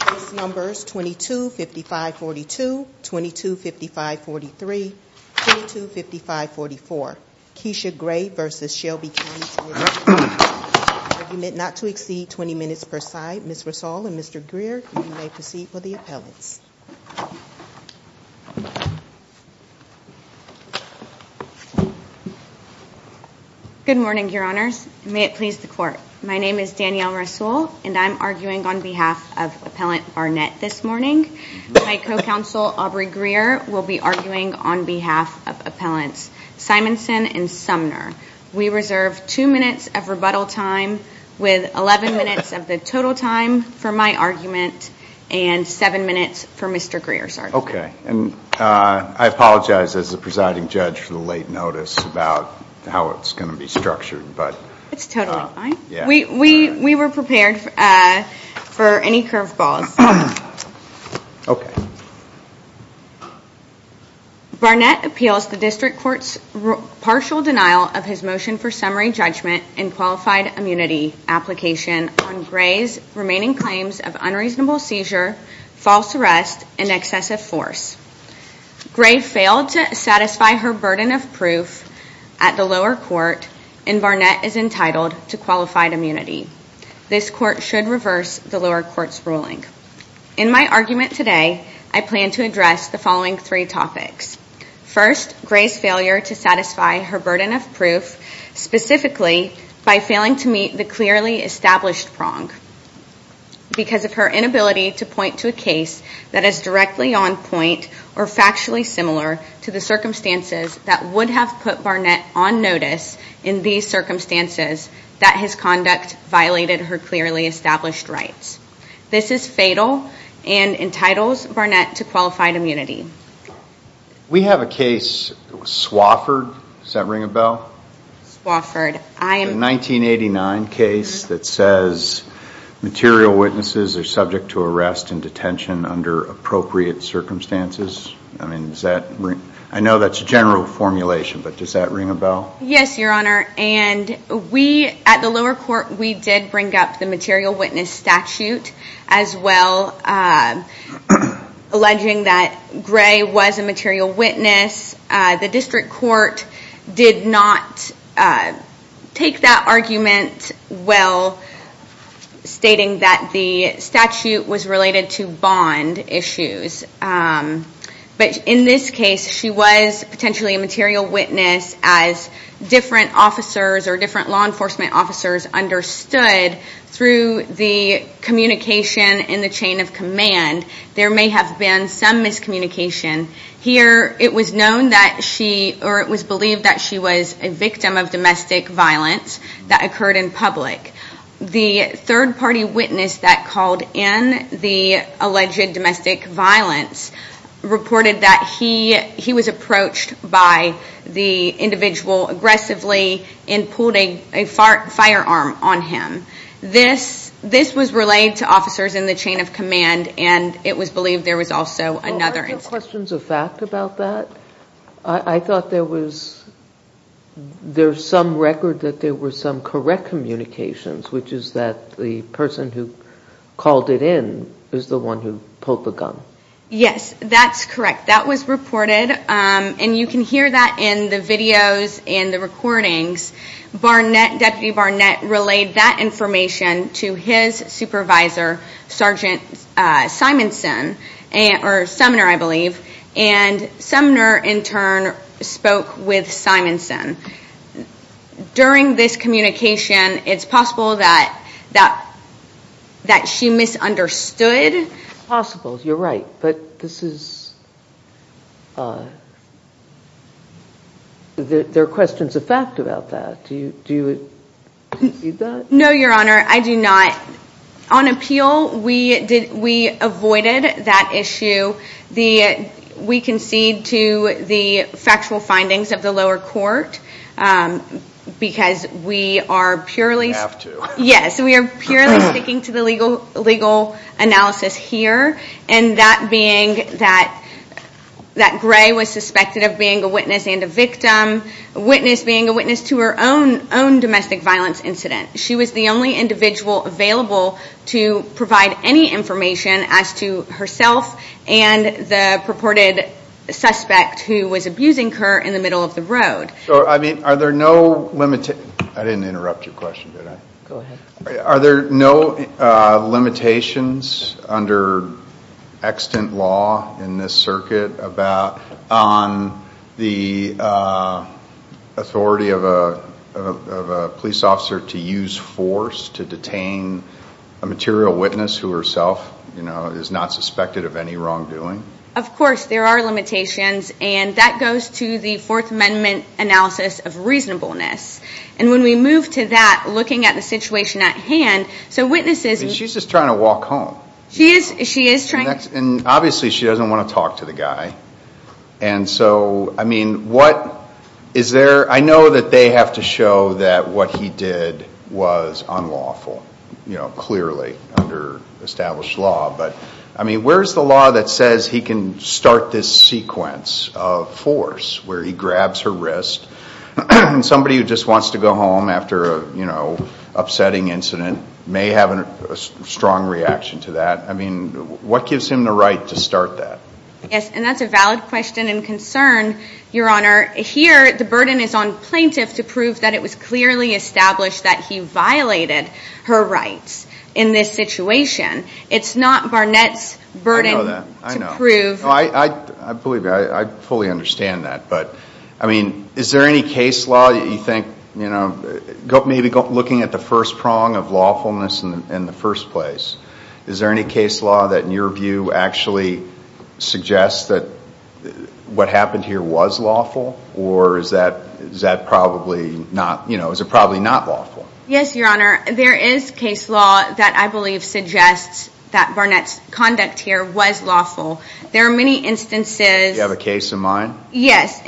Case Numbers 22-5542, 22-5543, 22-5544 Kesha Gray v. Shelby County TN Argument not to exceed 20 minutes per side. Ms. Rasool and Mr. Greer, you may proceed with the appellants. Good morning, Your Honors. May it please the Court. My name is Danielle Rasool and I'm arguing on behalf of Appellant Barnett this morning. My co-counsel Aubrey Greer will be arguing on behalf of Appellants Simonson and Sumner. We reserve 2 minutes of rebuttal time with 11 minutes of the total time for my argument and 7 minutes for Mr. Greer's argument. I apologize as the presiding judge for the late notice about how it's going to be structured. It's totally fine. We were prepared for any curveballs. Barnett appeals the District Court's partial denial of his motion for summary judgment and qualified immunity application on Gray's remaining claims of unreasonable seizure, false arrest, and excessive force. Gray failed to satisfy her burden of proof at the lower court and Barnett is entitled to qualified immunity. This court should reverse the lower court's ruling. In my argument today, I plan to address the following three topics. First, Gray's failure to satisfy her burden of proof, specifically by failing to meet the clearly established prong. Because of her inability to point to a case that is directly on point or factually similar to the circumstances that would have put Barnett on notice in these circumstances, that his conduct violated her clearly established rights. This is fatal and entitles Barnett to qualified immunity. We have a case, Swafford, does that ring a bell? The 1989 case that says material witnesses are subject to arrest and detention under appropriate circumstances. I know that's a general formulation, but does that ring a bell? Yes, your honor. At the lower court, we did bring up the material witness statute as well, alleging that Gray was a material witness. The district court did not take that argument well, stating that the statute was related to bond issues. But in this case, she was potentially a material witness as different officers or different law enforcement officers understood through the communication in the chain of command. There may have been some miscommunication. Here, it was known that she, or it was believed that she was a victim of domestic violence that occurred in public. The third party witness that called in the alleged domestic violence reported that he was approached by the individual aggressively and pulled a firearm on him. This was relayed to officers in the chain of command and it was believed there was also another incident. Any questions of fact about that? I thought there was some record that there were some correct communications, which is that the person who called it in is the one who pulled the gun. Yes, that's correct. That was reported, and you can hear that in the videos and the recordings. Deputy Barnett relayed that information to his supervisor, Sergeant Simonson, or Sumner, I believe, and Sumner, in turn, spoke with Simonson. During this communication, it's possible that she misunderstood. It's possible, you're right, but there are questions of fact about that. Do you concede that? No, Your Honor, I do not. On appeal, we avoided that issue. We concede to the factual findings of the lower court because we are purely sticking to the legal analysis here. That being that Gray was suspected of being a witness and a victim, a witness being a witness to her own domestic violence incident. She was the only individual available to provide any information as to herself and the purported suspect who was abusing her in the middle of the road. I didn't interrupt your question, did I? Go ahead. Are there no limitations under extant law in this circuit on the authority of a police officer to use force to detain a material witness who herself is not suspected of any wrongdoing? Of course, there are limitations, and that goes to the Fourth Amendment analysis of reasonableness. And when we move to that, looking at the situation at hand, so witnesses... She's just trying to walk home. She is trying... And obviously, she doesn't want to talk to the guy. And so, I mean, what is there... I know that they have to show that what he did was unlawful, you know, clearly, under established law. But, I mean, where is the law that says he can start this sequence of force where he grabs her wrist? And somebody who just wants to go home after, you know, upsetting incident may have a strong reaction to that. I mean, what gives him the right to start that? Yes, and that's a valid question and concern, Your Honor. Here, the burden is on plaintiff to prove that it was clearly established that he violated her rights in this situation. It's not Barnett's burden to prove... I know that. I know. I believe that. I fully understand that. But, I mean, is there any case law that you think, you know, maybe looking at the first prong of lawfulness in the first place, is there any case law that, in your view, actually suggests that what happened here was lawful? Or is that probably not, you know, is it probably not lawful? Yes, Your Honor. There is case law that I believe suggests that Barnett's conduct here was lawful. There are many instances... Do you have a case in mind? Yes.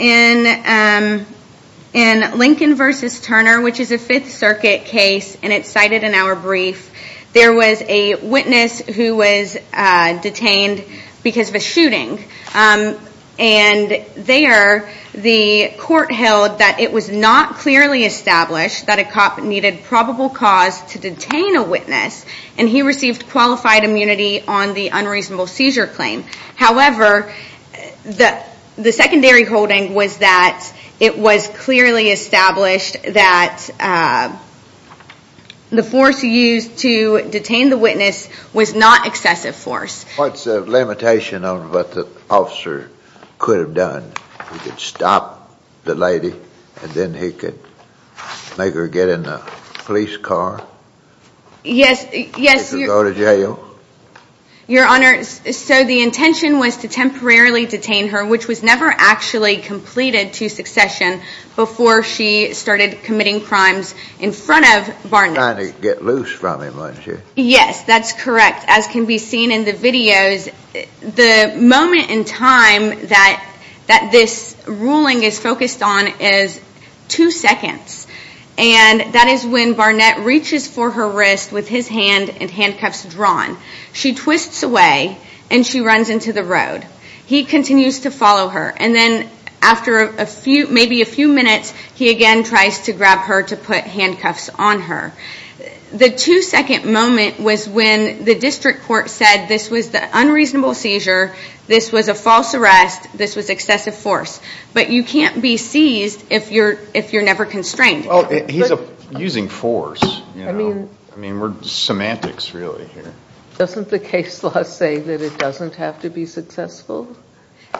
In Lincoln v. Turner, which is a Fifth Circuit case, and it's cited in our brief, there was a witness who was detained because of a shooting. And there, the court held that it was not clearly established that a cop needed probable cause to detain a witness, and he received qualified immunity on the unreasonable seizure claim. However, the secondary holding was that it was clearly established that the force used to detain the witness was not excessive force. What's the limitation of what the officer could have done? He could stop the lady, and then he could make her get in a police car? Yes, Your... He could go to jail? Your Honor, so the intention was to temporarily detain her, which was never actually completed to succession before she started committing crimes in front of Barnett. Trying to get loose from him, wasn't she? Yes, that's correct. As can be seen in the videos, the moment in time that this ruling is focused on is two seconds, and that is when Barnett reaches for her wrist with his hand and handcuffs drawn. She twists away, and she runs into the road. He continues to follow her, and then after maybe a few minutes, he again tries to grab her to put handcuffs on her. The two-second moment was when the district court said this was the unreasonable seizure, this was a false arrest, this was excessive force. But you can't be seized if you're never constrained. He's using force. I mean, we're semantics really here. Doesn't the case law say that it doesn't have to be successful?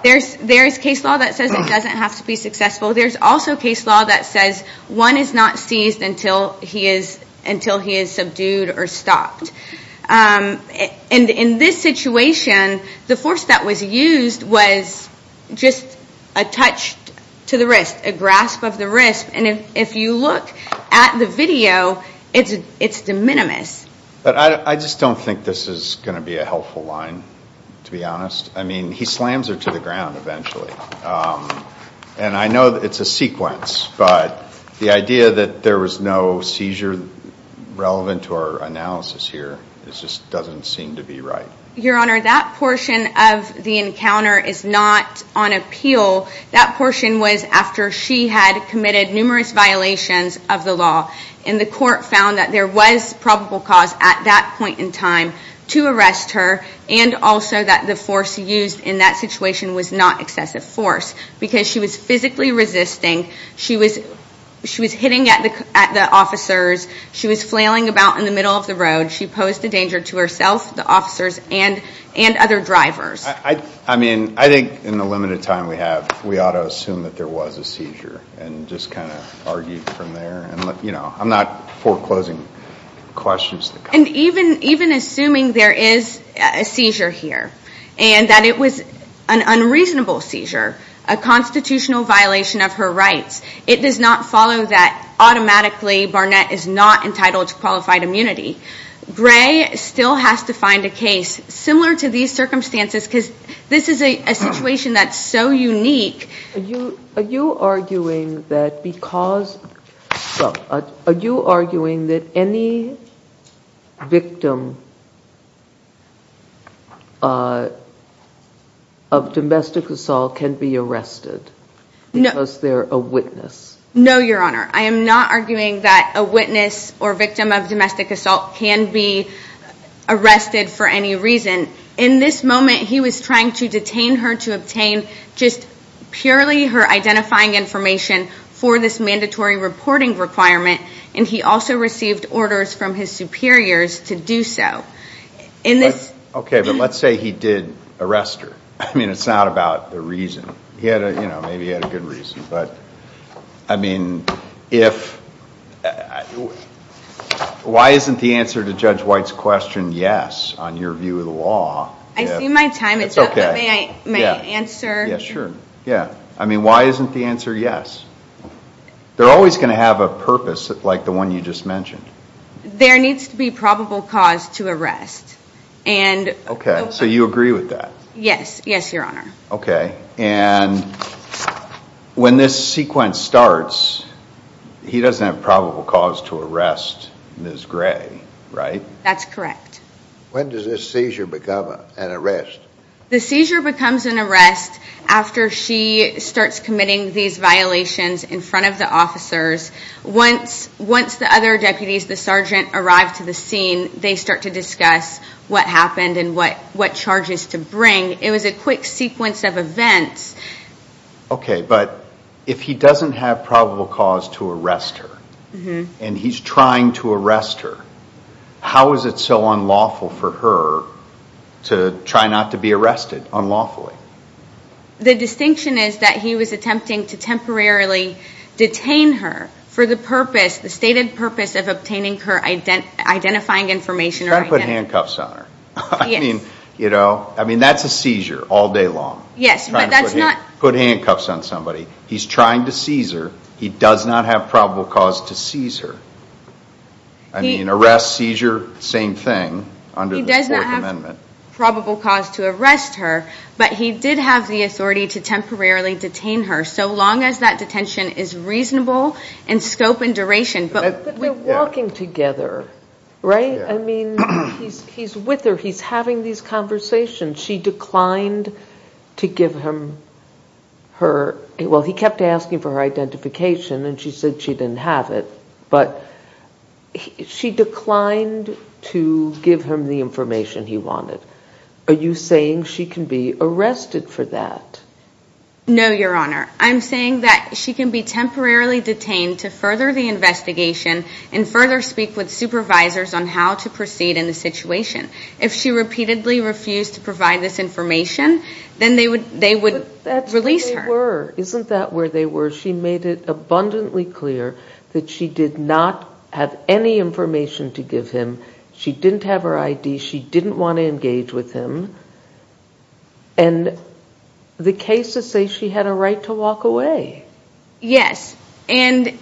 There's case law that says it doesn't have to be successful. There's also case law that says one is not seized until he is subdued or stopped. In this situation, the force that was used was just a touch to the wrist, a grasp of the wrist. And if you look at the video, it's de minimis. But I just don't think this is going to be a helpful line, to be honest. I mean, he slams her to the ground eventually. And I know it's a sequence, but the idea that there was no seizure relevant to our analysis here just doesn't seem to be right. Your Honor, that portion of the encounter is not on appeal. That portion was after she had committed numerous violations of the law, and the court found that there was probable cause at that point in time to arrest her, and also that the force used in that situation was not excessive force because she was physically resisting. She was hitting at the officers. She was flailing about in the middle of the road. She posed a danger to herself, the officers, and other drivers. I mean, I think in the limited time we have, we ought to assume that there was a seizure and just kind of argue from there. And, you know, I'm not foreclosing questions. And even assuming there is a seizure here and that it was an unreasonable seizure, a constitutional violation of her rights, it does not follow that automatically Barnett is not entitled to qualified immunity. Gray still has to find a case similar to these circumstances because this is a situation that's so unique. Are you arguing that any victim of domestic assault can be arrested because they're a witness? No, Your Honor. I am not arguing that a witness or victim of domestic assault can be arrested for any reason. In this moment, he was trying to detain her to obtain just purely her identifying information for this mandatory reporting requirement, and he also received orders from his superiors to do so. Okay, but let's say he did arrest her. I mean, it's not about the reason. He had a, you know, maybe he had a good reason. But, I mean, why isn't the answer to Judge White's question yes on your view of the law? I see my time. It's okay. May I answer? Yeah, sure. Yeah. I mean, why isn't the answer yes? They're always going to have a purpose like the one you just mentioned. There needs to be probable cause to arrest. Okay, so you agree with that? Yes. Yes, Your Honor. Okay, and when this sequence starts, he doesn't have probable cause to arrest Ms. Gray, right? That's correct. When does this seizure become an arrest? The seizure becomes an arrest after she starts committing these violations in front of the officers. Once the other deputies, the sergeant, arrive to the scene, they start to discuss what happened and what charges to bring. It was a quick sequence of events. Okay, but if he doesn't have probable cause to arrest her and he's trying to arrest her, how is it so unlawful for her to try not to be arrested unlawfully? The distinction is that he was attempting to temporarily detain her for the purpose, the stated purpose of obtaining her identifying information. He's trying to put handcuffs on her. Yes. I mean, that's a seizure all day long. Yes, but that's not. Trying to put handcuffs on somebody. He's trying to seize her. He does not have probable cause to seize her. I mean, arrest, seizure, same thing under the Fourth Amendment. He does not have probable cause to arrest her, but he did have the authority to temporarily detain her so long as that detention is reasonable in scope and duration. But we're walking together, right? I mean, he's with her. He's having these conversations. She declined to give him her, well, he kept asking for her identification and she said she didn't have it, but she declined to give him the information he wanted. Are you saying she can be arrested for that? No, Your Honor. and further speak with supervisors on how to proceed in the situation. If she repeatedly refused to provide this information, then they would release her. But that's where they were. Isn't that where they were? She made it abundantly clear that she did not have any information to give him. She didn't have her ID. She didn't want to engage with him. And the case is saying she had a right to walk away. Yes. And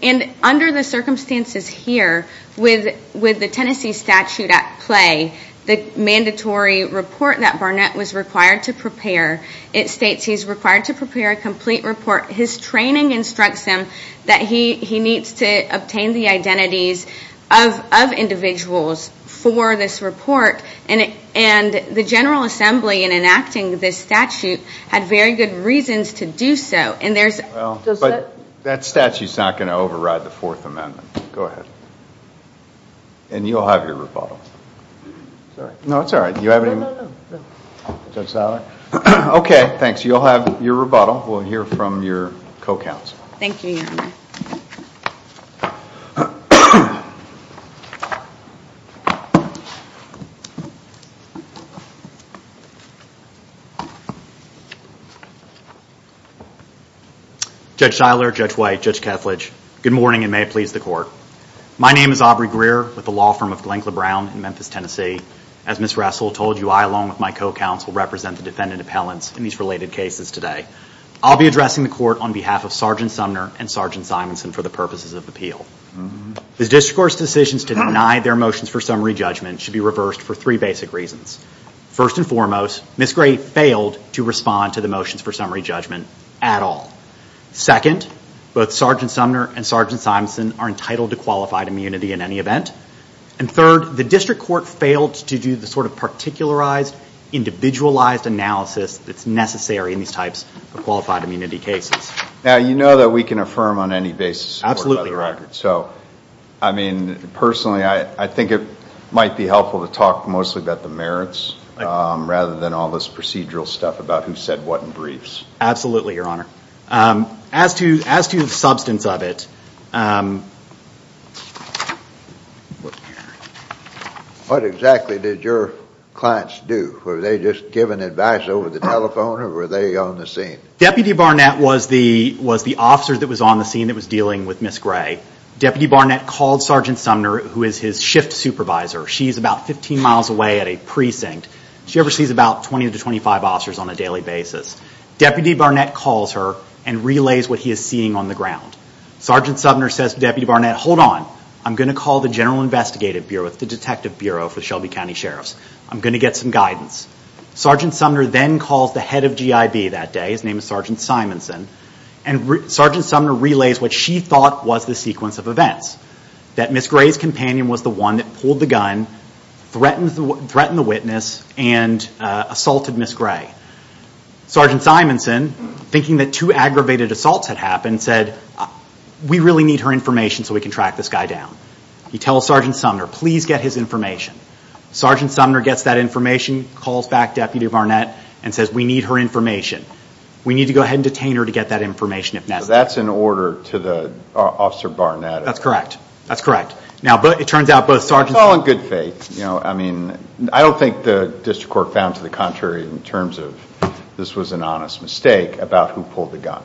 under the circumstances here, with the Tennessee statute at play, the mandatory report that Barnett was required to prepare, it states he's required to prepare a complete report. His training instructs him that he needs to obtain the identities of individuals for this report. And the General Assembly, in enacting this statute, had very good reasons to do so. But that statute's not going to override the Fourth Amendment. Go ahead. And you'll have your rebuttal. No, it's all right. Do you have any more? No, no, no. Judge Saller? Okay, thanks. You'll have your rebuttal. We'll hear from your co-counsel. Thank you, Your Honor. Judge Saller, Judge White, Judge Kethledge, good morning and may it please the Court. My name is Aubrey Greer with the law firm of Glencla Brown in Memphis, Tennessee. As Ms. Russell told you, I, along with my co-counsel, represent the defendant appellants in these related cases today. I'll be addressing the Court on behalf of Sergeant Sumner and Sergeant Simonson for the purposes of appeal. The district court's decisions to deny their motions for summary judgment should be reversed for three basic reasons. First and foremost, Ms. Gray failed to respond to the motions for summary judgment at all. Second, both Sergeant Sumner and Sergeant Simonson are entitled to qualified immunity in any event. And third, the district court failed to do the sort of particularized, individualized analysis that's necessary in these types of qualified immunity cases. Now, you know that we can affirm on any basis a court by the record. Absolutely. So, I mean, personally, I think it might be helpful to talk mostly about the merits rather than all this procedural stuff about who said what in briefs. Absolutely, Your Honor. As to the substance of it, What exactly did your clients do? Were they just giving advice over the telephone or were they on the scene? Deputy Barnett was the officer that was on the scene that was dealing with Ms. Gray. Deputy Barnett called Sergeant Sumner, who is his shift supervisor. She's about 15 miles away at a precinct. She oversees about 20 to 25 officers on a daily basis. Deputy Barnett calls her and relays what he is seeing on the ground. Sergeant Sumner says to Deputy Barnett, Hold on, I'm going to call the General Investigative Bureau. It's the detective bureau for Shelby County Sheriffs. I'm going to get some guidance. Sergeant Sumner then calls the head of GIB that day. His name is Sergeant Simonson. Sergeant Sumner relays what she thought was the sequence of events, that Ms. Gray's companion was the one that pulled the gun, threatened the witness, and assaulted Ms. Gray. Sergeant Simonson, thinking that two aggravated assaults had happened, said, We really need her information so we can track this guy down. He tells Sergeant Sumner, Please get his information. Sergeant Sumner gets that information, calls back Deputy Barnett, and says, We need her information. We need to go ahead and detain her to get that information if necessary. So that's an order to Officer Barnett. That's correct. That's correct. Now, it turns out both sergeants Well, in good faith. I don't think the district court found to the contrary in terms of this was an honest mistake about who pulled the gun,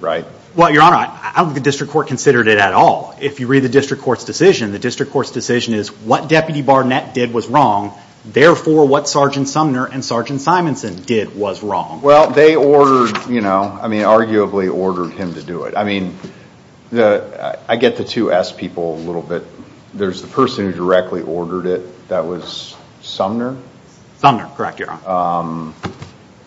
right? Well, Your Honor, I don't think the district court considered it at all. If you read the district court's decision, the district court's decision is what Deputy Barnett did was wrong, therefore, what Sergeant Sumner and Sergeant Simonson did was wrong. Well, they ordered, you know, I mean, arguably ordered him to do it. I mean, I get the two S people a little bit. There's the person who directly ordered it. That was Sumner? Sumner. Correct, Your Honor.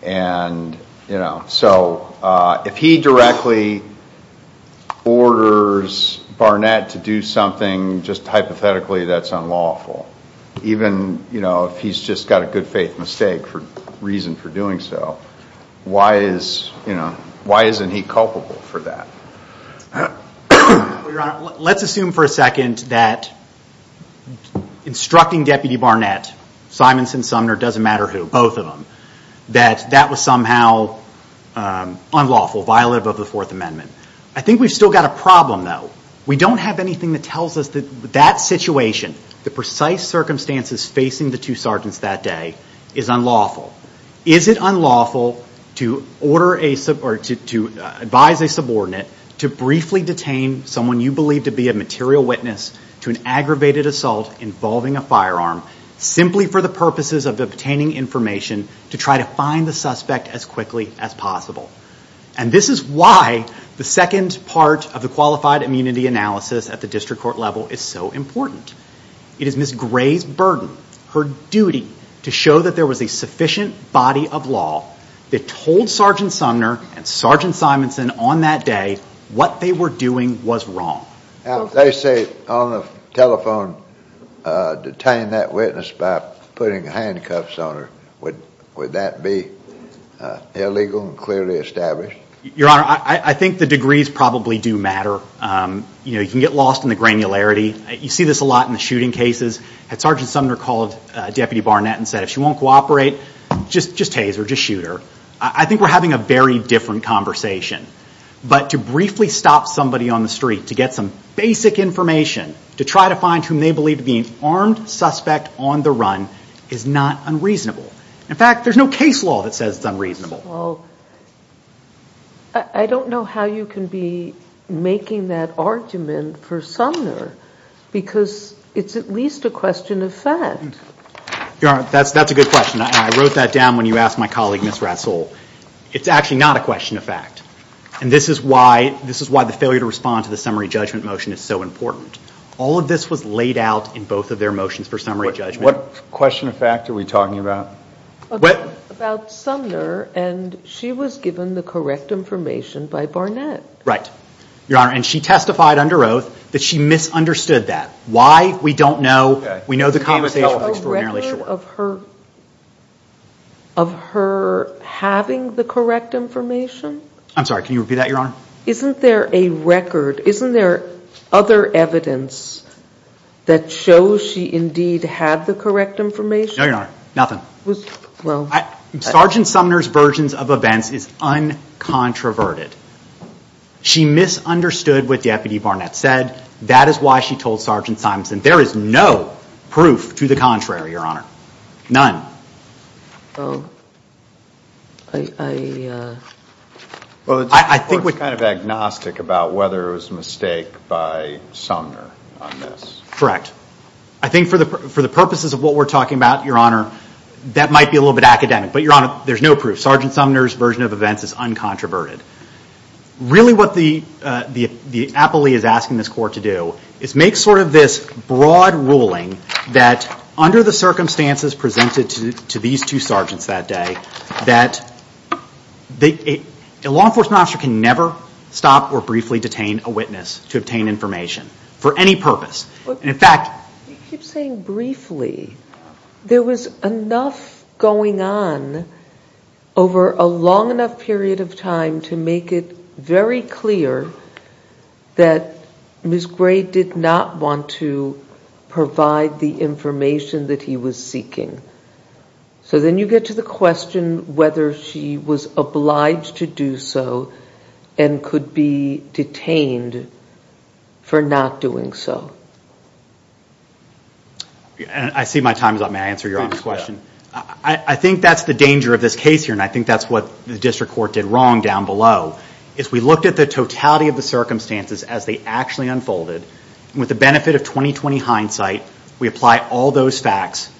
And, you know, so if he directly orders Barnett to do something, just hypothetically, that's unlawful. Even, you know, if he's just got a good faith mistake for reason for doing so, why isn't he culpable for that? Well, Your Honor, let's assume for a second that instructing Deputy Barnett, Simonson, Sumner, doesn't matter who, both of them, that that was somehow unlawful, violative of the Fourth Amendment. I think we've still got a problem, though. We don't have anything that tells us that that situation, the precise circumstances facing the two sergeants that day, is unlawful. Is it unlawful to advise a subordinate to briefly detain someone you believe to be a material witness to an aggravated assault involving a firearm simply for the purposes of obtaining information to try to find the suspect as quickly as possible? And this is why the second part of the Qualified Immunity Analysis at the district court level is so important. It is Ms. Gray's burden, her duty, to show that there was a sufficient body of law that told Sergeant Sumner and Sergeant Simonson on that day what they were doing was wrong. Now, if they say on the telephone, detain that witness by putting handcuffs on her, would that be illegal and clearly established? Your Honor, I think the degrees probably do matter. You can get lost in the granularity. You see this a lot in the shooting cases. Had Sergeant Sumner called Deputy Barnett and said, if she won't cooperate, just haze her, just shoot her? I think we're having a very different conversation. But to briefly stop somebody on the street to get some basic information to try to find whom they believe to be an armed suspect on the run is not unreasonable. In fact, there's no case law that says it's unreasonable. Well, I don't know how you can be making that argument for Sumner because it's at least a question of fact. Your Honor, that's a good question. I wrote that down when you asked my colleague, Ms. Russell. It's actually not a question of fact. And this is why the failure to respond to the summary judgment motion is so important. All of this was laid out in both of their motions for summary judgment. What question of fact are we talking about? About Sumner, and she was given the correct information by Barnett. Right. Your Honor, and she testified under oath that she misunderstood that. Why? We don't know. We know the conversation was extraordinarily short. Is there a record of her having the correct information? I'm sorry. Can you repeat that, Your Honor? Isn't there a record? Isn't there other evidence that shows she indeed had the correct information? No, Your Honor. Nothing. Well. Sergeant Sumner's versions of events is uncontroverted. She misunderstood what Deputy Barnett said. That is why she told Sergeant Simonson. There is no proof to the contrary, Your Honor. None. Oh. I, uh. Well, it's kind of agnostic about whether it was a mistake by Sumner on this. Correct. I think for the purposes of what we're talking about, Your Honor, that might be a little bit academic. But, Your Honor, there's no proof. Sergeant Sumner's version of events is uncontroverted. Really what the appellee is asking this court to do is make sort of this broad ruling that, under the circumstances presented to these two sergeants that day, that a law enforcement officer can never stop or briefly detain a witness to obtain information for any purpose. In fact. You keep saying briefly. There was enough going on over a long enough period of time to make it very clear that Ms. Gray did not want to provide the information that he was seeking. So then you get to the question whether she was obliged to do so and could be detained for not doing so. I see my time is up. May I answer Your Honor's question? I think that's the danger of this case here, and I think that's what the district court did wrong down below, is we looked at the totality of the circumstances as they actually unfolded. With the benefit of 20-20 hindsight, we apply all those facts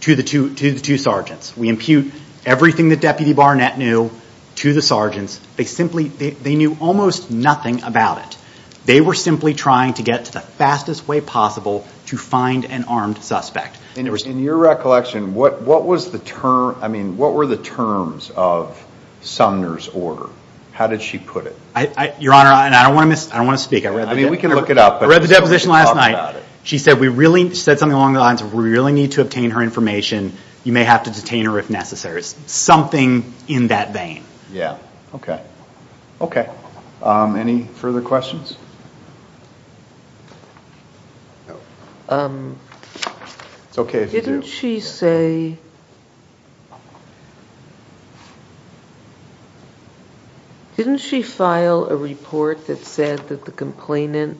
to the two sergeants. We impute everything that Deputy Barnett knew to the sergeants. They knew almost nothing about it. They were simply trying to get to the fastest way possible to find an armed suspect. In your recollection, what were the terms of Sumner's order? How did she put it? Your Honor, and I don't want to speak. We can look it up. I read the deposition last night. She said something along the lines of, we really need to obtain her information. You may have to detain her if necessary. Something in that vein. Yeah. Okay. Okay. Any further questions? It's okay if you do. Didn't she say, didn't she file a report that said that the complainant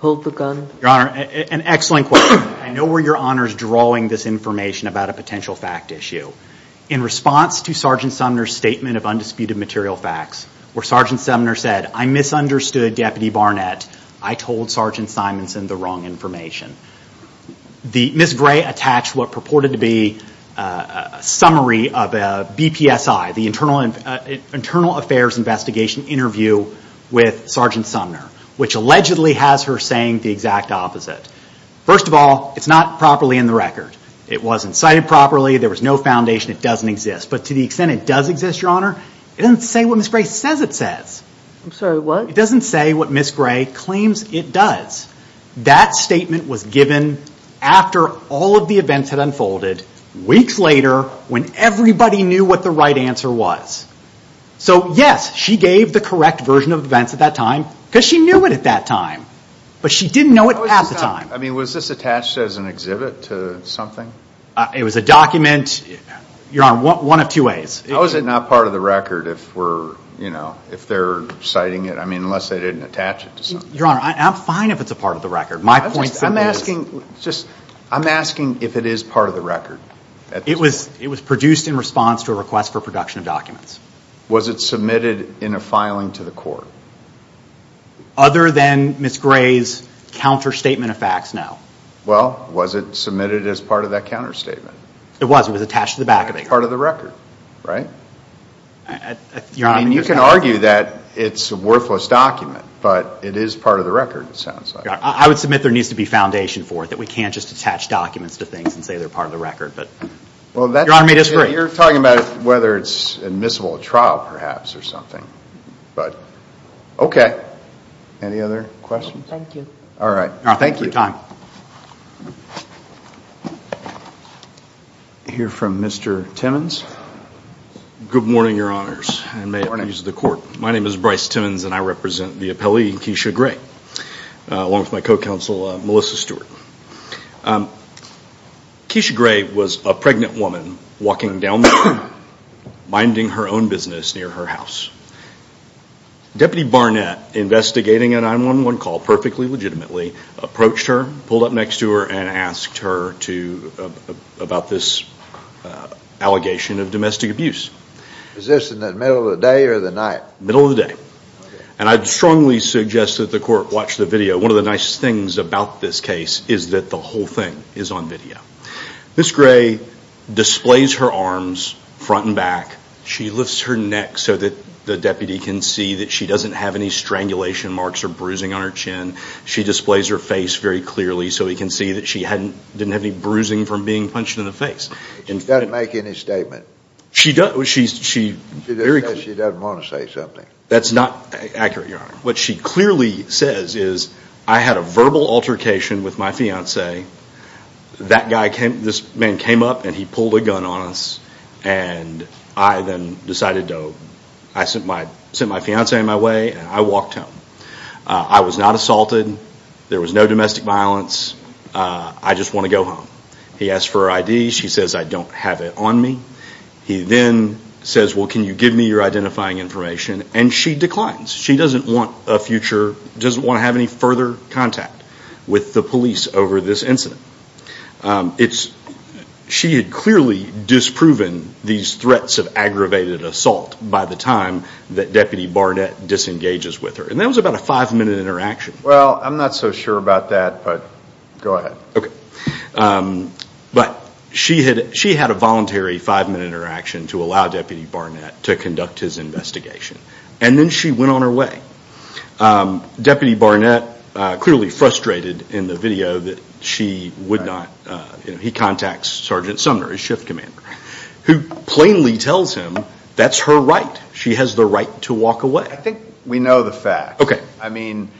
pulled the gun? Your Honor, an excellent question. I know we're Your Honor's drawing this information about a potential fact issue. In response to Sergeant Sumner's statement of undisputed material facts, where Sergeant Sumner said, I misunderstood Deputy Barnett. I told Sergeant Simonson the wrong information. Ms. Gray attached what purported to be a summary of a BPSI, the Internal Affairs Investigation interview with Sergeant Sumner, which allegedly has her saying the exact opposite. First of all, it's not properly in the record. It wasn't cited properly. There was no foundation. It doesn't exist. But to the extent it does exist, Your Honor, it doesn't say what Ms. Gray says it says. I'm sorry, what? It doesn't say what Ms. Gray claims it does. That statement was given after all of the events had unfolded weeks later when everybody knew what the right answer was. So, yes, she gave the correct version of events at that time because she knew it at that time. But she didn't know it at the time. I mean, was this attached as an exhibit to something? It was a document, Your Honor, one of two ways. How is it not part of the record if they're citing it? I mean, unless they didn't attach it to something. Your Honor, I'm fine if it's a part of the record. I'm asking if it is part of the record. It was produced in response to a request for production of documents. Was it submitted in a filing to the court? Other than Ms. Gray's counterstatement of facts, no. Well, was it submitted as part of that counterstatement? It was. It was attached to the back of it. It's part of the record, right? I mean, you can argue that it's a worthless document, but it is part of the record, it sounds like. I would submit there needs to be foundation for it, that we can't just attach documents to things and say they're part of the record. Your Honor may disagree. You're talking about whether it's admissible at trial, perhaps, or something. Okay. Any other questions? Thank you. All right. Thank you for your time. I hear from Mr. Timmons. Good morning, Your Honors, and may it please the Court. Good morning. My name is Bryce Timmons, and I represent the appellee, Keisha Gray, along with my co-counsel, Melissa Stewart. Keisha Gray was a pregnant woman walking down the corridor, minding her own business near her house. Deputy Barnett, investigating a 911 call perfectly legitimately, approached her, pulled up next to her, and asked her about this allegation of domestic abuse. Was this in the middle of the day or the night? Middle of the day. Okay. And I'd strongly suggest that the Court watch the video. One of the nice things about this case is that the whole thing is on video. Ms. Gray displays her arms front and back. She lifts her neck so that the deputy can see that she doesn't have any strangulation marks or bruising on her chin. She displays her face very clearly so he can see that she didn't have any bruising from being punched in the face. She doesn't make any statement. She does. She just says she doesn't want to say something. That's not accurate, Your Honor. What she clearly says is, I had a verbal altercation with my fiancé. This man came up, and he pulled a gun on us, and I then decided to send my fiancé on my way, and I walked home. I was not assaulted. There was no domestic violence. I just want to go home. He asked for her ID. She says, I don't have it on me. He then says, well, can you give me your identifying information? And she declines. She doesn't want a future, doesn't want to have any further contact with the police over this incident. She had clearly disproven these threats of aggravated assault by the time that Deputy Barnett disengages with her. And that was about a five-minute interaction. Well, I'm not so sure about that, but go ahead. Okay. But she had a voluntary five-minute interaction to allow Deputy Barnett to conduct his investigation. And then she went on her way. Deputy Barnett clearly frustrated in the video that she would not. He contacts Sergeant Sumner, his shift commander, who plainly tells him that's her right. She has the right to walk away. I think we know the fact. Okay. I mean,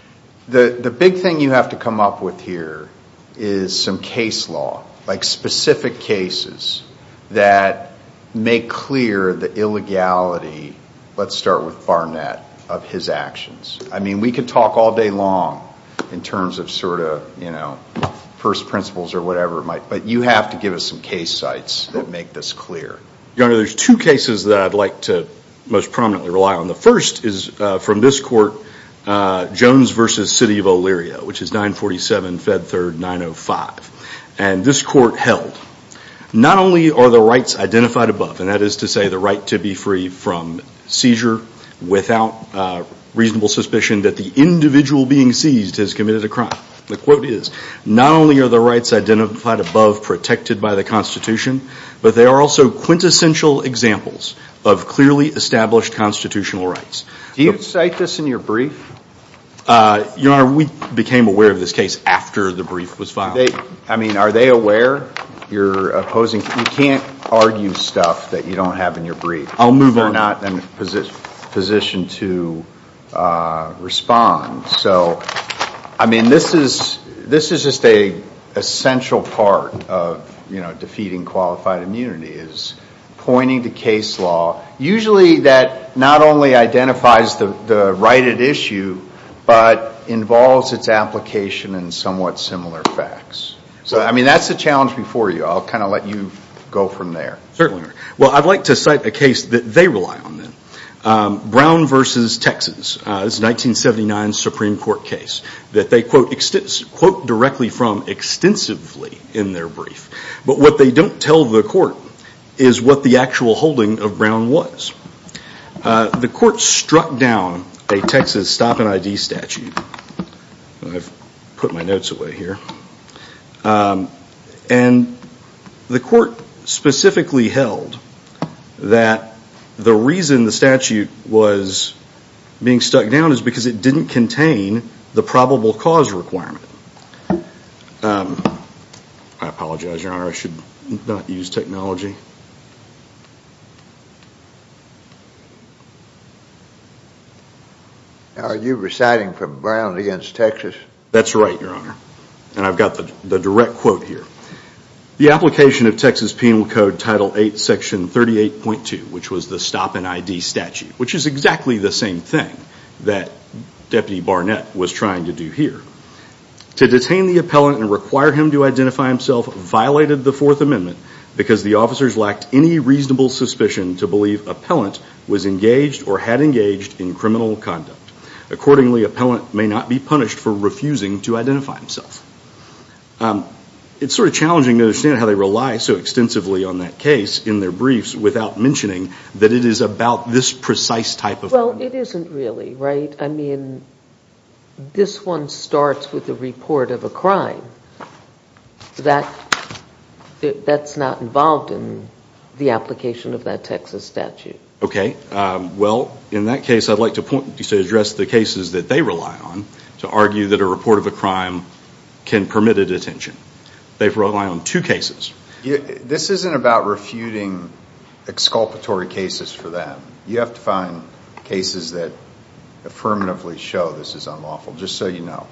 the big thing you have to come up with here is some case law, like specific cases that make clear the illegality, let's start with Barnett, of his actions. I mean, we could talk all day long in terms of sort of, you know, first principles or whatever, but you have to give us some case sites that make this clear. Your Honor, there's two cases that I'd like to most prominently rely on. The first is from this court, Jones v. City of O'Leary, which is 947 Fed Third 905. And this court held, not only are the rights identified above, and that is to say the right to be free from seizure without reasonable suspicion, that the individual being seized has committed a crime. The quote is, not only are the rights identified above protected by the Constitution, but they are also quintessential examples of clearly established constitutional rights. Do you cite this in your brief? Your Honor, we became aware of this case after the brief was filed. I mean, are they aware? You can't argue stuff that you don't have in your brief. I'll move on. They're not in a position to respond. So, I mean, this is just an essential part of, you know, defeating qualified immunity is pointing to case law, usually that not only identifies the right at issue, but involves its application in somewhat similar facts. So, I mean, that's a challenge before you. I'll kind of let you go from there. Certainly, Your Honor. Well, I'd like to cite a case that they rely on. Brown v. Texas. This is a 1979 Supreme Court case that they quote directly from extensively in their brief. But what they don't tell the court is what the actual holding of Brown was. The court struck down a Texas stop and ID statute. I've put my notes away here. And the court specifically held that the reason the statute was being struck down is because it didn't contain the probable cause requirement. I apologize, Your Honor. I should not use technology. Are you reciting from Brown v. Texas? That's right, Your Honor. And I've got the direct quote here. The application of Texas Penal Code Title VIII, Section 38.2, which was the stop and ID statute, which is exactly the same thing that Deputy Barnett was trying to do here. To detain the appellant and require him to identify himself violated the Fourth Amendment because the officers lacked any reasonable suspicion to believe appellant was engaged or had engaged in criminal conduct. Accordingly, appellant may not be punished for refusing to identify himself. It's sort of challenging to understand how they rely so extensively on that case in their briefs without mentioning that it is about this precise type of crime. Well, it isn't really, right? I mean, this one starts with the report of a crime. That's not involved in the application of that Texas statute. Okay. Well, in that case, I'd like to address the cases that they rely on to argue that a report of a crime can permit a detention. They rely on two cases. This isn't about refuting exculpatory cases for that. You have to find cases that affirmatively show this is unlawful, just so you know.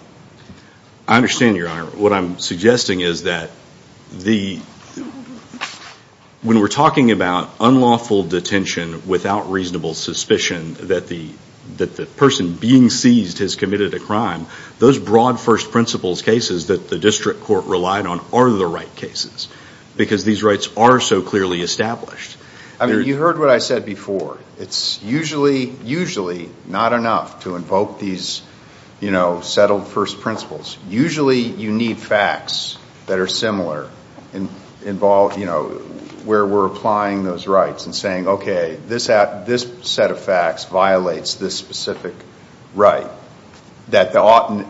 I understand, Your Honor. What I'm suggesting is that when we're talking about unlawful detention without reasonable suspicion that the person being seized has committed a crime, those broad first principles cases that the district court relied on are the right cases because these rights are so clearly established. I mean, you heard what I said before. It's usually not enough to invoke these settled first principles. Usually you need facts that are similar where we're applying those rights and saying, okay, this set of facts violates this specific right that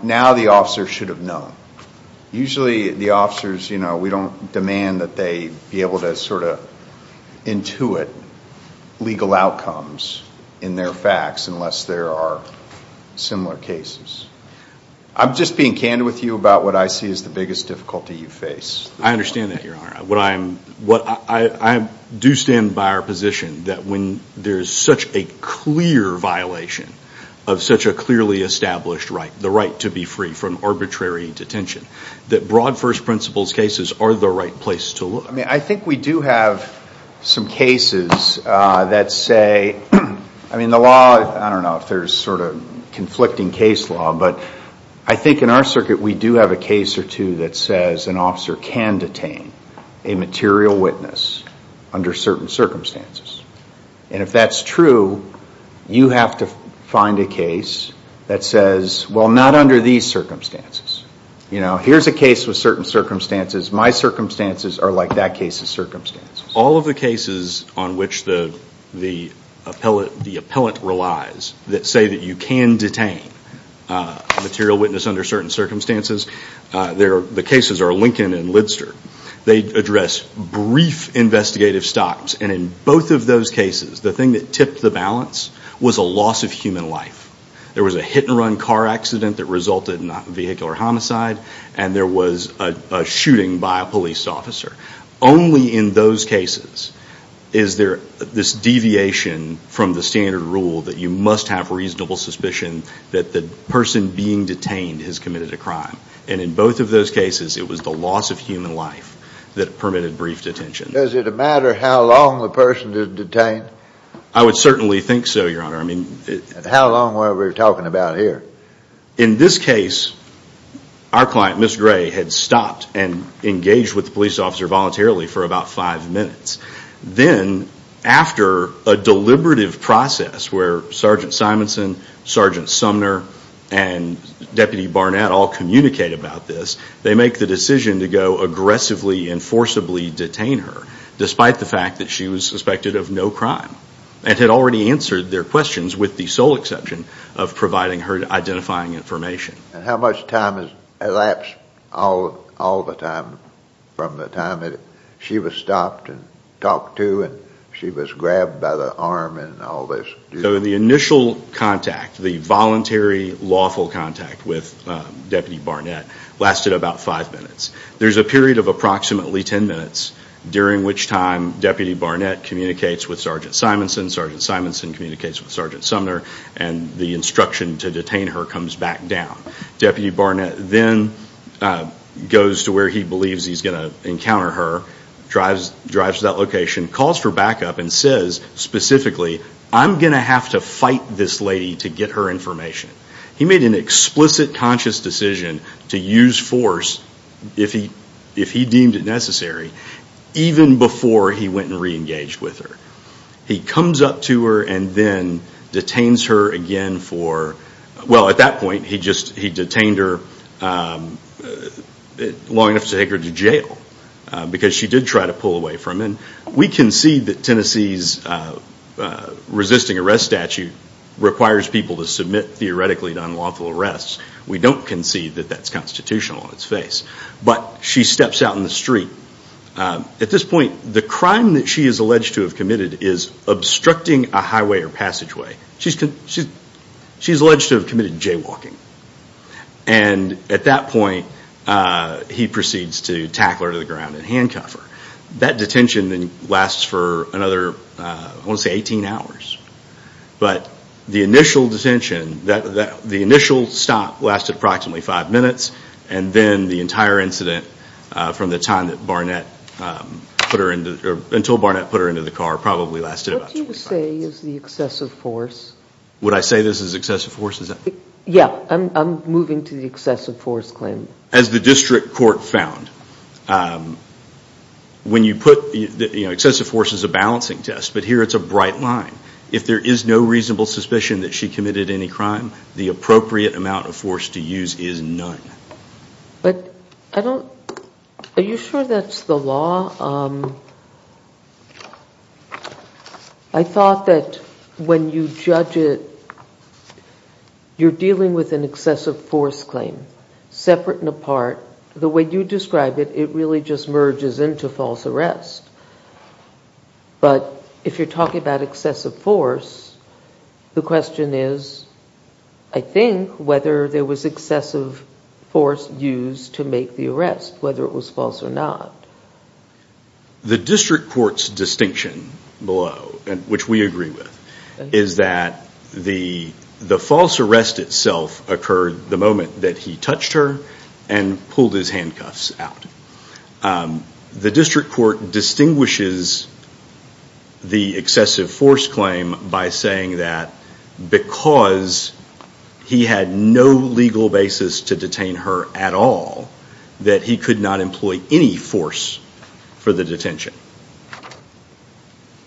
now the officer should have known. Usually the officers, we don't demand that they be able to sort of intuit legal outcomes in their facts unless there are similar cases. I'm just being candid with you about what I see as the biggest difficulty you face. I understand that, Your Honor. I do stand by our position that when there's such a clear violation of such a clearly established right, the right to be free from arbitrary detention, that broad first principles cases are the right place to look. I mean, I think we do have some cases that say, I mean, the law, I don't know if there's sort of conflicting case law, but I think in our circuit we do have a case or two that says an officer can detain a material witness under certain circumstances. And if that's true, you have to find a case that says, well, not under these circumstances. You know, here's a case with certain circumstances. My circumstances are like that case's circumstances. All of the cases on which the appellant relies that say that you can detain a material witness under certain circumstances, the cases are Lincoln and Lidster. They address brief investigative stops. And in both of those cases, the thing that tipped the balance was a loss of human life. There was a hit-and-run car accident that resulted in a vehicular homicide, and there was a shooting by a police officer. Only in those cases is there this deviation from the standard rule that you must have reasonable suspicion that the person being detained has committed a crime. And in both of those cases, it was the loss of human life that permitted brief detention. Does it matter how long the person is detained? I would certainly think so, Your Honor. How long were we talking about here? In this case, our client, Ms. Gray, had stopped and engaged with the police officer voluntarily for about five minutes. Then, after a deliberative process where Sergeant Simonson, Sergeant Sumner, and Deputy Barnett all communicate about this, they make the decision to go aggressively and forcibly detain her, despite the fact that she was suspected of no crime and had already answered their questions with the sole exception of providing her identifying information. And how much time has elapsed all the time from the time that she was stopped and talked to and she was grabbed by the arm and all this? The initial contact, the voluntary lawful contact with Deputy Barnett, lasted about five minutes. There's a period of approximately ten minutes, during which time Deputy Barnett communicates with Sergeant Simonson, Sergeant Simonson communicates with Sergeant Sumner, and the instruction to detain her comes back down. Deputy Barnett then goes to where he believes he's going to encounter her, drives to that location, calls for backup, and says specifically, I'm going to have to fight this lady to get her information. He made an explicit conscious decision to use force, if he deemed it necessary, even before he went and re-engaged with her. He comes up to her and then detains her again for... Well, at that point, he detained her long enough to take her to jail, because she did try to pull away from him. We concede that Tennessee's resisting arrest statute requires people to submit, theoretically, to unlawful arrests. We don't concede that that's constitutional on its face. But she steps out in the street. At this point, the crime that she is alleged to have committed is obstructing a highway or passageway. She's alleged to have committed jaywalking. At that point, he proceeds to tackle her to the ground and handcuff her. That detention then lasts for another, I want to say, 18 hours. But the initial detention, the initial stop lasted approximately five minutes, and then the entire incident from the time that Barnett put her into the car probably lasted about 25 minutes. What do you say is the excessive force? Would I say this is excessive force? Yeah, I'm moving to the excessive force claim. As the district court found, excessive force is a balancing test, but here it's a bright line. If there is no reasonable suspicion that she committed any crime, the appropriate amount of force to use is none. Are you sure that's the law? I thought that when you judge it, you're dealing with an excessive force claim, separate and apart, the way you describe it, it really just merges into false arrest. But if you're talking about excessive force, the question is, I think, whether there was excessive force used to make the arrest, whether it was false or not. The district court's distinction below, which we agree with, is that the false arrest itself occurred the moment that he touched her and pulled his handcuffs out. The district court distinguishes the excessive force claim by saying that because he had no legal basis to detain her at all, that he could not employ any force for the detention,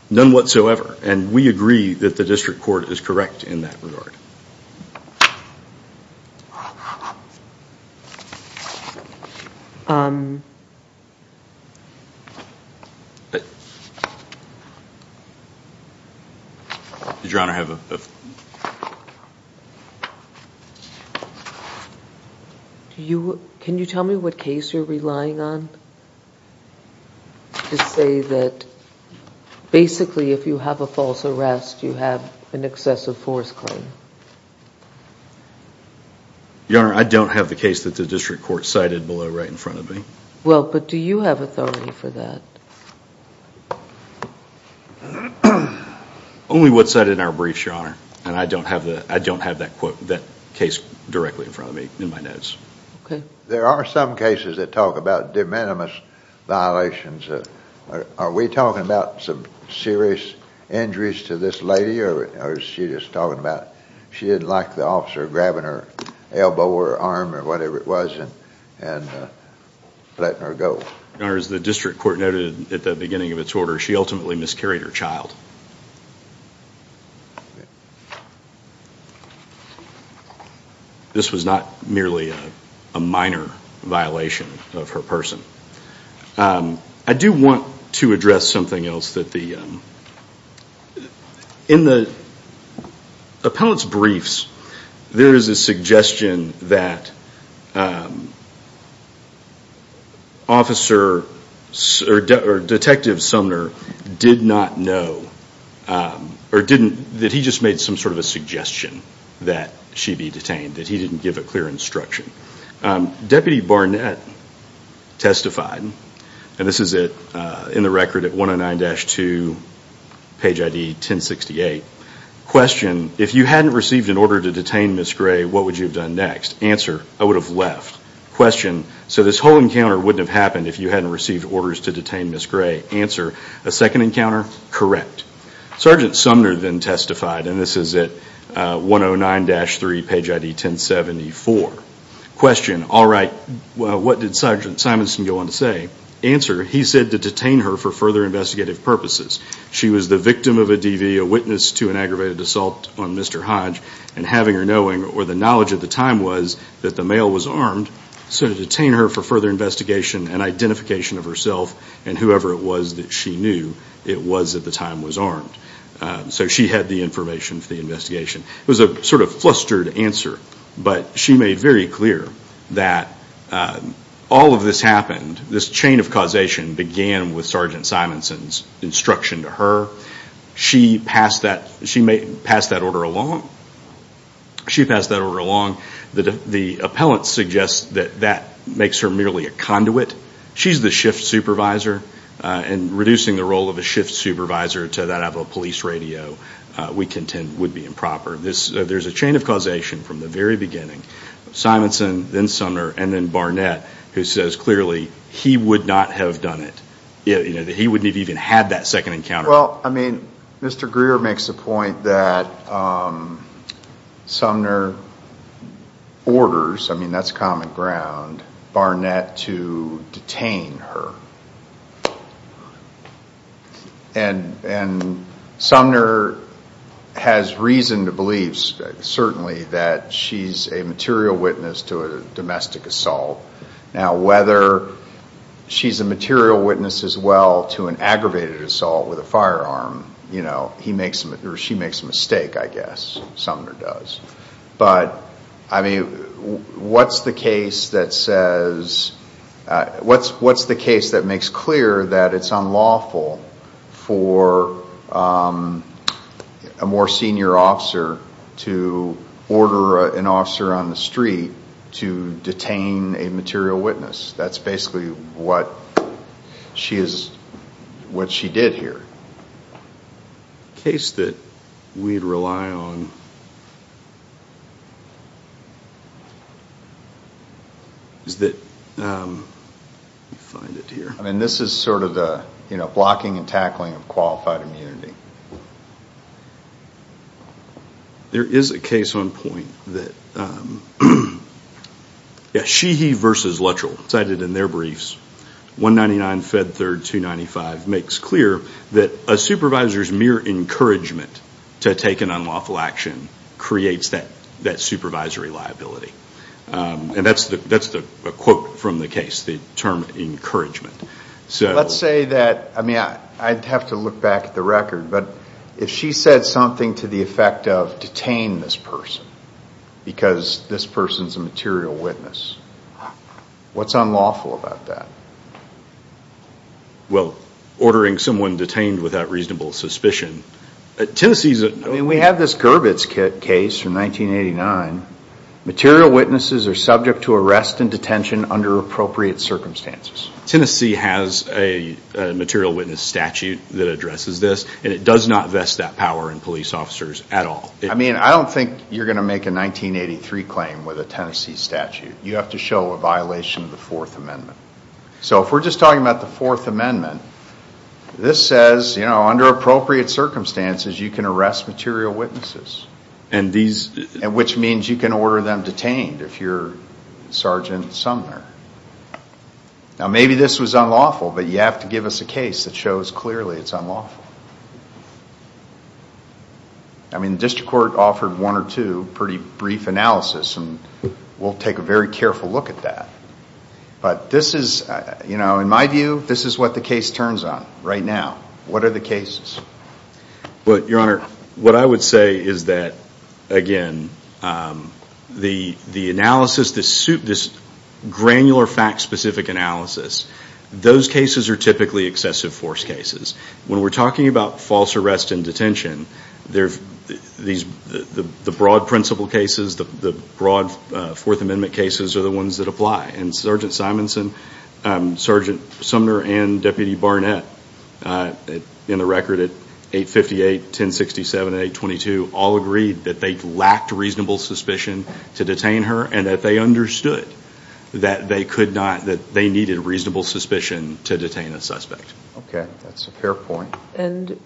none whatsoever. And we agree that the district court is correct in that regard. Your Honor, I have a... Can you tell me what case you're relying on to say that basically if you have a false arrest, you have an excessive force claim? Your Honor, I don't have the case that the district court cited below right in front of me. Well, but do you have authority for that? Only what's cited in our briefs, Your Honor, and I don't have that case directly in front of me in my notes. There are some cases that talk about de minimis violations. Are we talking about some serious injuries to this lady, or is she just talking about she didn't like the officer grabbing her elbow or arm or whatever it was and letting her go? Your Honor, as the district court noted at the beginning of its order, she ultimately miscarried her child. This was not merely a minor violation of her person. I do want to address something else that the... Appellate's briefs, there is a suggestion that Detective Sumner did not know or didn't... that he just made some sort of a suggestion that she be detained, that he didn't give a clear instruction. Deputy Barnett testified, and this is in the record at 109-2, page ID 1068. Question, if you hadn't received an order to detain Ms. Gray, what would you have done next? Answer, I would have left. Question, so this whole encounter wouldn't have happened if you hadn't received orders to detain Ms. Gray. Answer, a second encounter? Correct. Sergeant Sumner then testified, and this is at 109-3, page ID 1074. Question, all right, what did Sergeant Simonson go on to say? Answer, he said to detain her for further investigative purposes. She was the victim of a DV, a witness to an aggravated assault on Mr. Hodge, and having her knowing or the knowledge at the time was that the male was armed, so to detain her for further investigation and identification of herself and whoever it was that she knew it was at the time was armed. So she had the information for the investigation. It was a sort of flustered answer, but she made very clear that all of this happened, this chain of causation began with Sergeant Simonson's instruction to her. She passed that order along. She passed that order along. The appellant suggests that that makes her merely a conduit. She's the shift supervisor, and reducing the role of a shift supervisor to that of a police radio we contend would be improper. There's a chain of causation from the very beginning. Simonson, then Sumner, and then Barnett, who says clearly he would not have done it. He wouldn't have even had that second encounter. Well, I mean, Mr. Greer makes the point that Sumner orders, I mean that's common ground, Barnett to detain her. And Sumner has reason to believe certainly that she's a material witness to a domestic assault. Now, whether she's a material witness as well to an aggravated assault with a firearm, you know, he makes or she makes a mistake, I guess, Sumner does. But, I mean, what's the case that says, what's the case that makes clear that it's unlawful for a more senior officer to order an officer on the street to detain a material witness? That's basically what she did here. The case that we'd rely on is that, let me find it here. I mean, this is sort of the blocking and tackling of qualified immunity. There is a case on point that Sheehy v. Luttrell cited in their briefs, 199 Fed Third 295, makes clear that a supervisor's mere encouragement to take an unlawful action creates that supervisory liability. And that's a quote from the case, the term encouragement. Let's say that, I mean, I'd have to look back at the record, but if she said something to the effect of detain this person because this person's a material witness, what's unlawful about that? Well, ordering someone detained without reasonable suspicion. Tennessee's a... I mean, we have this Gurbitz case from 1989. Material witnesses are subject to arrest and detention under appropriate circumstances. Tennessee has a material witness statute that addresses this, and it does not vest that power in police officers at all. I mean, I don't think you're going to make a 1983 claim with a Tennessee statute. You have to show a violation of the Fourth Amendment. So if we're just talking about the Fourth Amendment, this says under appropriate circumstances you can arrest material witnesses, which means you can order them detained if you're Sergeant Sumner. Now, maybe this was unlawful, but you have to give us a case that shows clearly it's unlawful. I mean, the district court offered one or two pretty brief analysis, and we'll take a very careful look at that. But this is, you know, in my view, this is what the case turns on right now. What are the cases? Well, Your Honor, what I would say is that, again, the analysis, this granular fact-specific analysis, those cases are typically excessive force cases. When we're talking about false arrest and detention, the broad principle cases, the broad Fourth Amendment cases are the ones that apply. And Sergeant Simonson, Sergeant Sumner, and Deputy Barnett in the record at 858, 1067, and 822 all agreed that they lacked reasonable suspicion to detain her and that they understood that they needed reasonable suspicion to detain a suspect. Okay, that's a fair point. And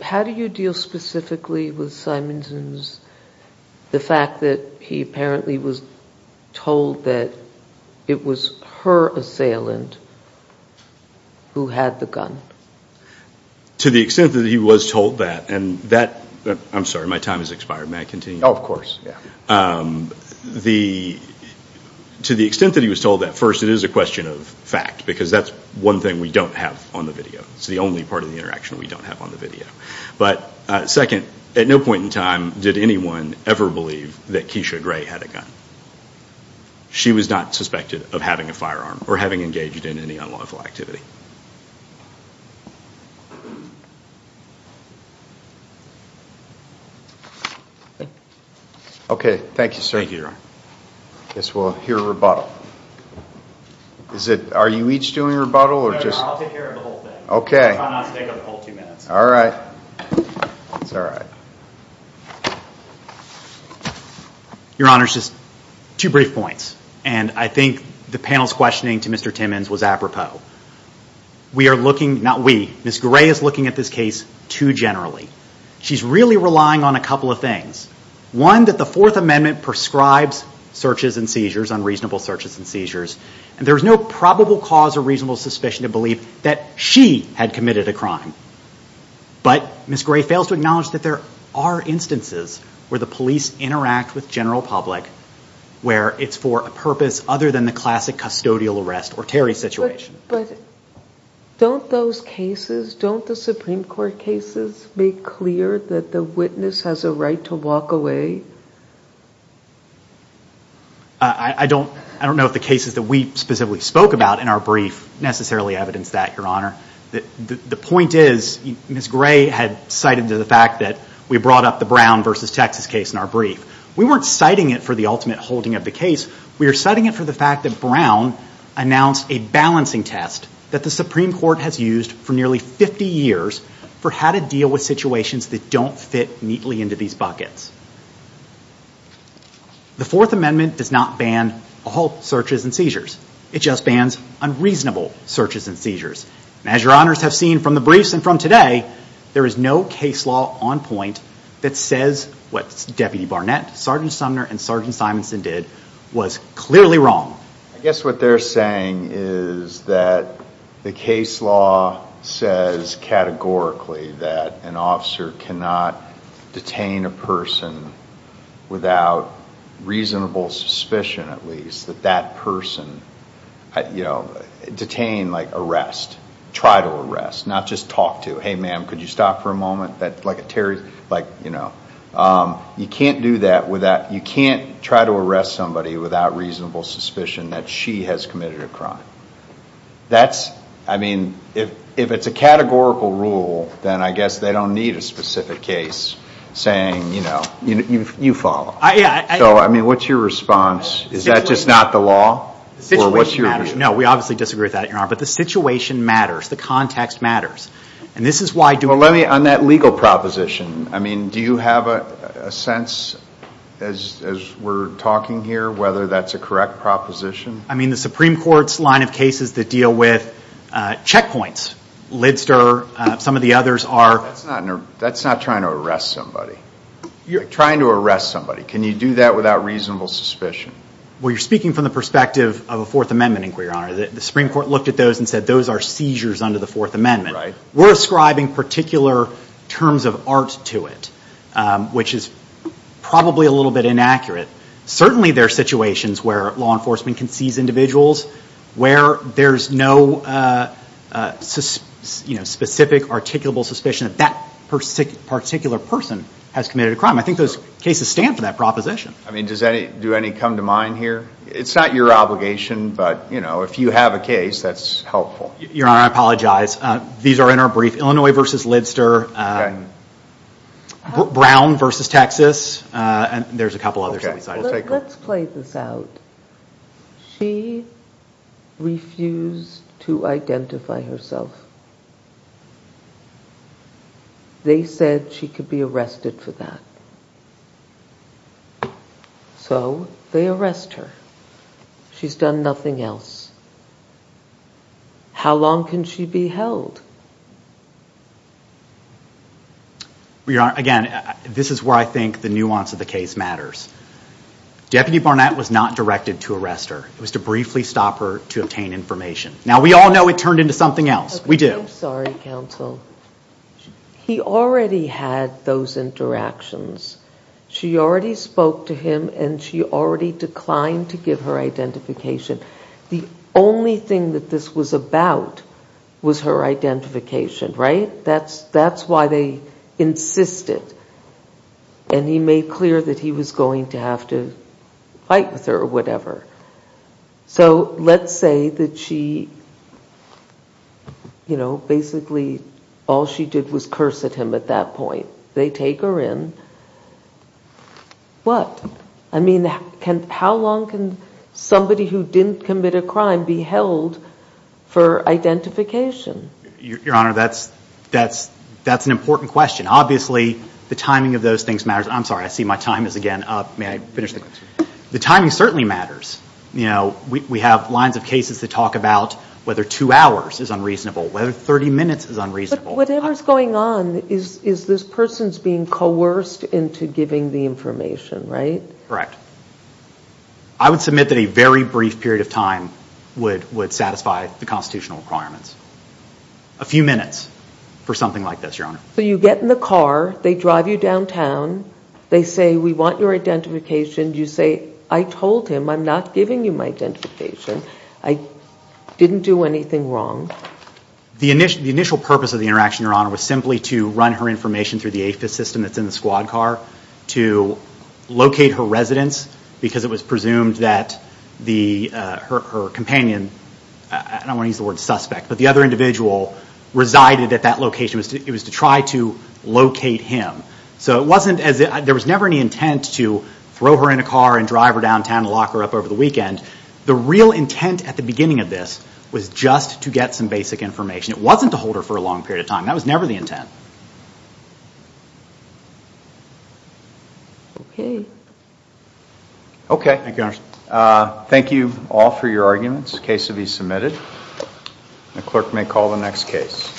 how do you deal specifically with Simonson's, the fact that he apparently was told that it was her assailant who had the gun? To the extent that he was told that, and that, I'm sorry, my time has expired. May I continue? Oh, of course, yeah. To the extent that he was told that, first, it is a question of fact because that's one thing we don't have on the video. It's the only part of the interaction we don't have on the video. But second, at no point in time did anyone ever believe that Keisha Gray had a gun. She was not suspected of having a firearm or having engaged in any unlawful activity. Thank you. Okay, thank you, sir. Thank you, Your Honor. I guess we'll hear a rebuttal. Are you each doing a rebuttal? No, no, I'll take care of the whole thing. Okay. If I'm not mistaken, the whole two minutes. All right. That's all right. Your Honor, just two brief points. And I think the panel's questioning to Mr. Timmons was apropos. We are looking, not we, Ms. Gray is looking at this case too generally. She's really relying on a couple of things. One, that the Fourth Amendment prescribes searches and seizures, unreasonable searches and seizures, and there's no probable cause or reasonable suspicion to believe that she had committed a crime. But Ms. Gray fails to acknowledge that there are instances where the police interact with general public where it's for a purpose other than the classic custodial arrest or Terry situation. But don't those cases, don't the Supreme Court cases make clear that the witness has a right to walk away? I don't know if the cases that we specifically spoke about in our brief necessarily evidence that, Your Honor. The point is Ms. Gray had cited the fact that we brought up the Brown versus Texas case in our brief. We weren't citing it for the ultimate holding of the case. We are citing it for the fact that Brown announced a balancing test that the Supreme Court has used for nearly 50 years for how to deal with situations that don't fit neatly into these buckets. The Fourth Amendment does not ban all searches and seizures. It just bans unreasonable searches and seizures. And as Your Honors have seen from the briefs and from today, there is no case law on point that says what Deputy Barnett, Sergeant Sumner, and Sergeant Simonson did was clearly wrong. I guess what they're saying is that the case law says categorically that an officer cannot detain a person without reasonable suspicion at least that that person, you know, detained like arrest, try to arrest, not just talk to. Hey, ma'am, could you stop for a moment? Like, you know, you can't do that without, you can't try to arrest somebody without reasonable suspicion that she has committed a crime. That's, I mean, if it's a categorical rule, then I guess they don't need a specific case saying, you know, you follow. So, I mean, what's your response? Is that just not the law? The situation matters. No, we obviously disagree with that, Your Honor. But the situation matters. The context matters. And this is why do we- Well, let me, on that legal proposition, I mean, do you have a sense as we're talking here whether that's a correct proposition? I mean, the Supreme Court's line of cases that deal with checkpoints, Lidster, some of the others are- That's not trying to arrest somebody. You're trying to arrest somebody. Can you do that without reasonable suspicion? Well, you're speaking from the perspective of a Fourth Amendment inquiry, Your Honor. The Supreme Court looked at those and said those are seizures under the Fourth Amendment. Right. We're ascribing particular terms of art to it, which is probably a little bit inaccurate. Certainly there are situations where law enforcement can seize individuals where there's no, you know, specific articulable suspicion that that particular person has committed a crime. I think those cases stand for that proposition. I mean, do any come to mind here? It's not your obligation, but, you know, if you have a case, that's helpful. Your Honor, I apologize. These are in our brief. Illinois v. Lidster, Brown v. Texas, and there's a couple others. Let's play this out. She refused to identify herself. They said she could be arrested for that. So they arrest her. She's done nothing else. How long can she be held? Your Honor, again, this is where I think the nuance of the case matters. Deputy Barnett was not directed to arrest her. It was to briefly stop her to obtain information. Now, we all know it turned into something else. We do. I'm sorry, counsel. He already had those interactions. She already spoke to him, and she already declined to give her identification. The only thing that this was about was her identification, right? That's why they insisted. And he made clear that he was going to have to fight with her or whatever. So let's say that she, you know, basically all she did was curse at him at that point. They take her in. What? I mean, how long can somebody who didn't commit a crime be held for identification? Your Honor, that's an important question. Obviously, the timing of those things matters. I'm sorry. I see my time is again up. May I finish the question? The timing certainly matters. You know, we have lines of cases that talk about whether two hours is unreasonable, whether 30 minutes is unreasonable. Whatever's going on is this person's being coerced into giving the information, right? Correct. I would submit that a very brief period of time would satisfy the constitutional requirements. A few minutes for something like this, Your Honor. So you get in the car. They drive you downtown. They say, we want your identification. You say, I told him I'm not giving you my identification. I didn't do anything wrong. The initial purpose of the interaction, Your Honor, was simply to run her information through the AFIS system that's in the squad car to locate her residence because it was presumed that her companion, I don't want to use the word suspect, but the other individual resided at that location. It was to try to locate him. So it wasn't as if there was never any intent to throw her in a car and drive her downtown and lock her up over the weekend. The real intent at the beginning of this was just to get some basic information. It wasn't to hold her for a long period of time. That was never the intent. Okay. Okay. Thank you, Your Honor. Thank you all for your arguments. The case will be submitted. The clerk may call the next case.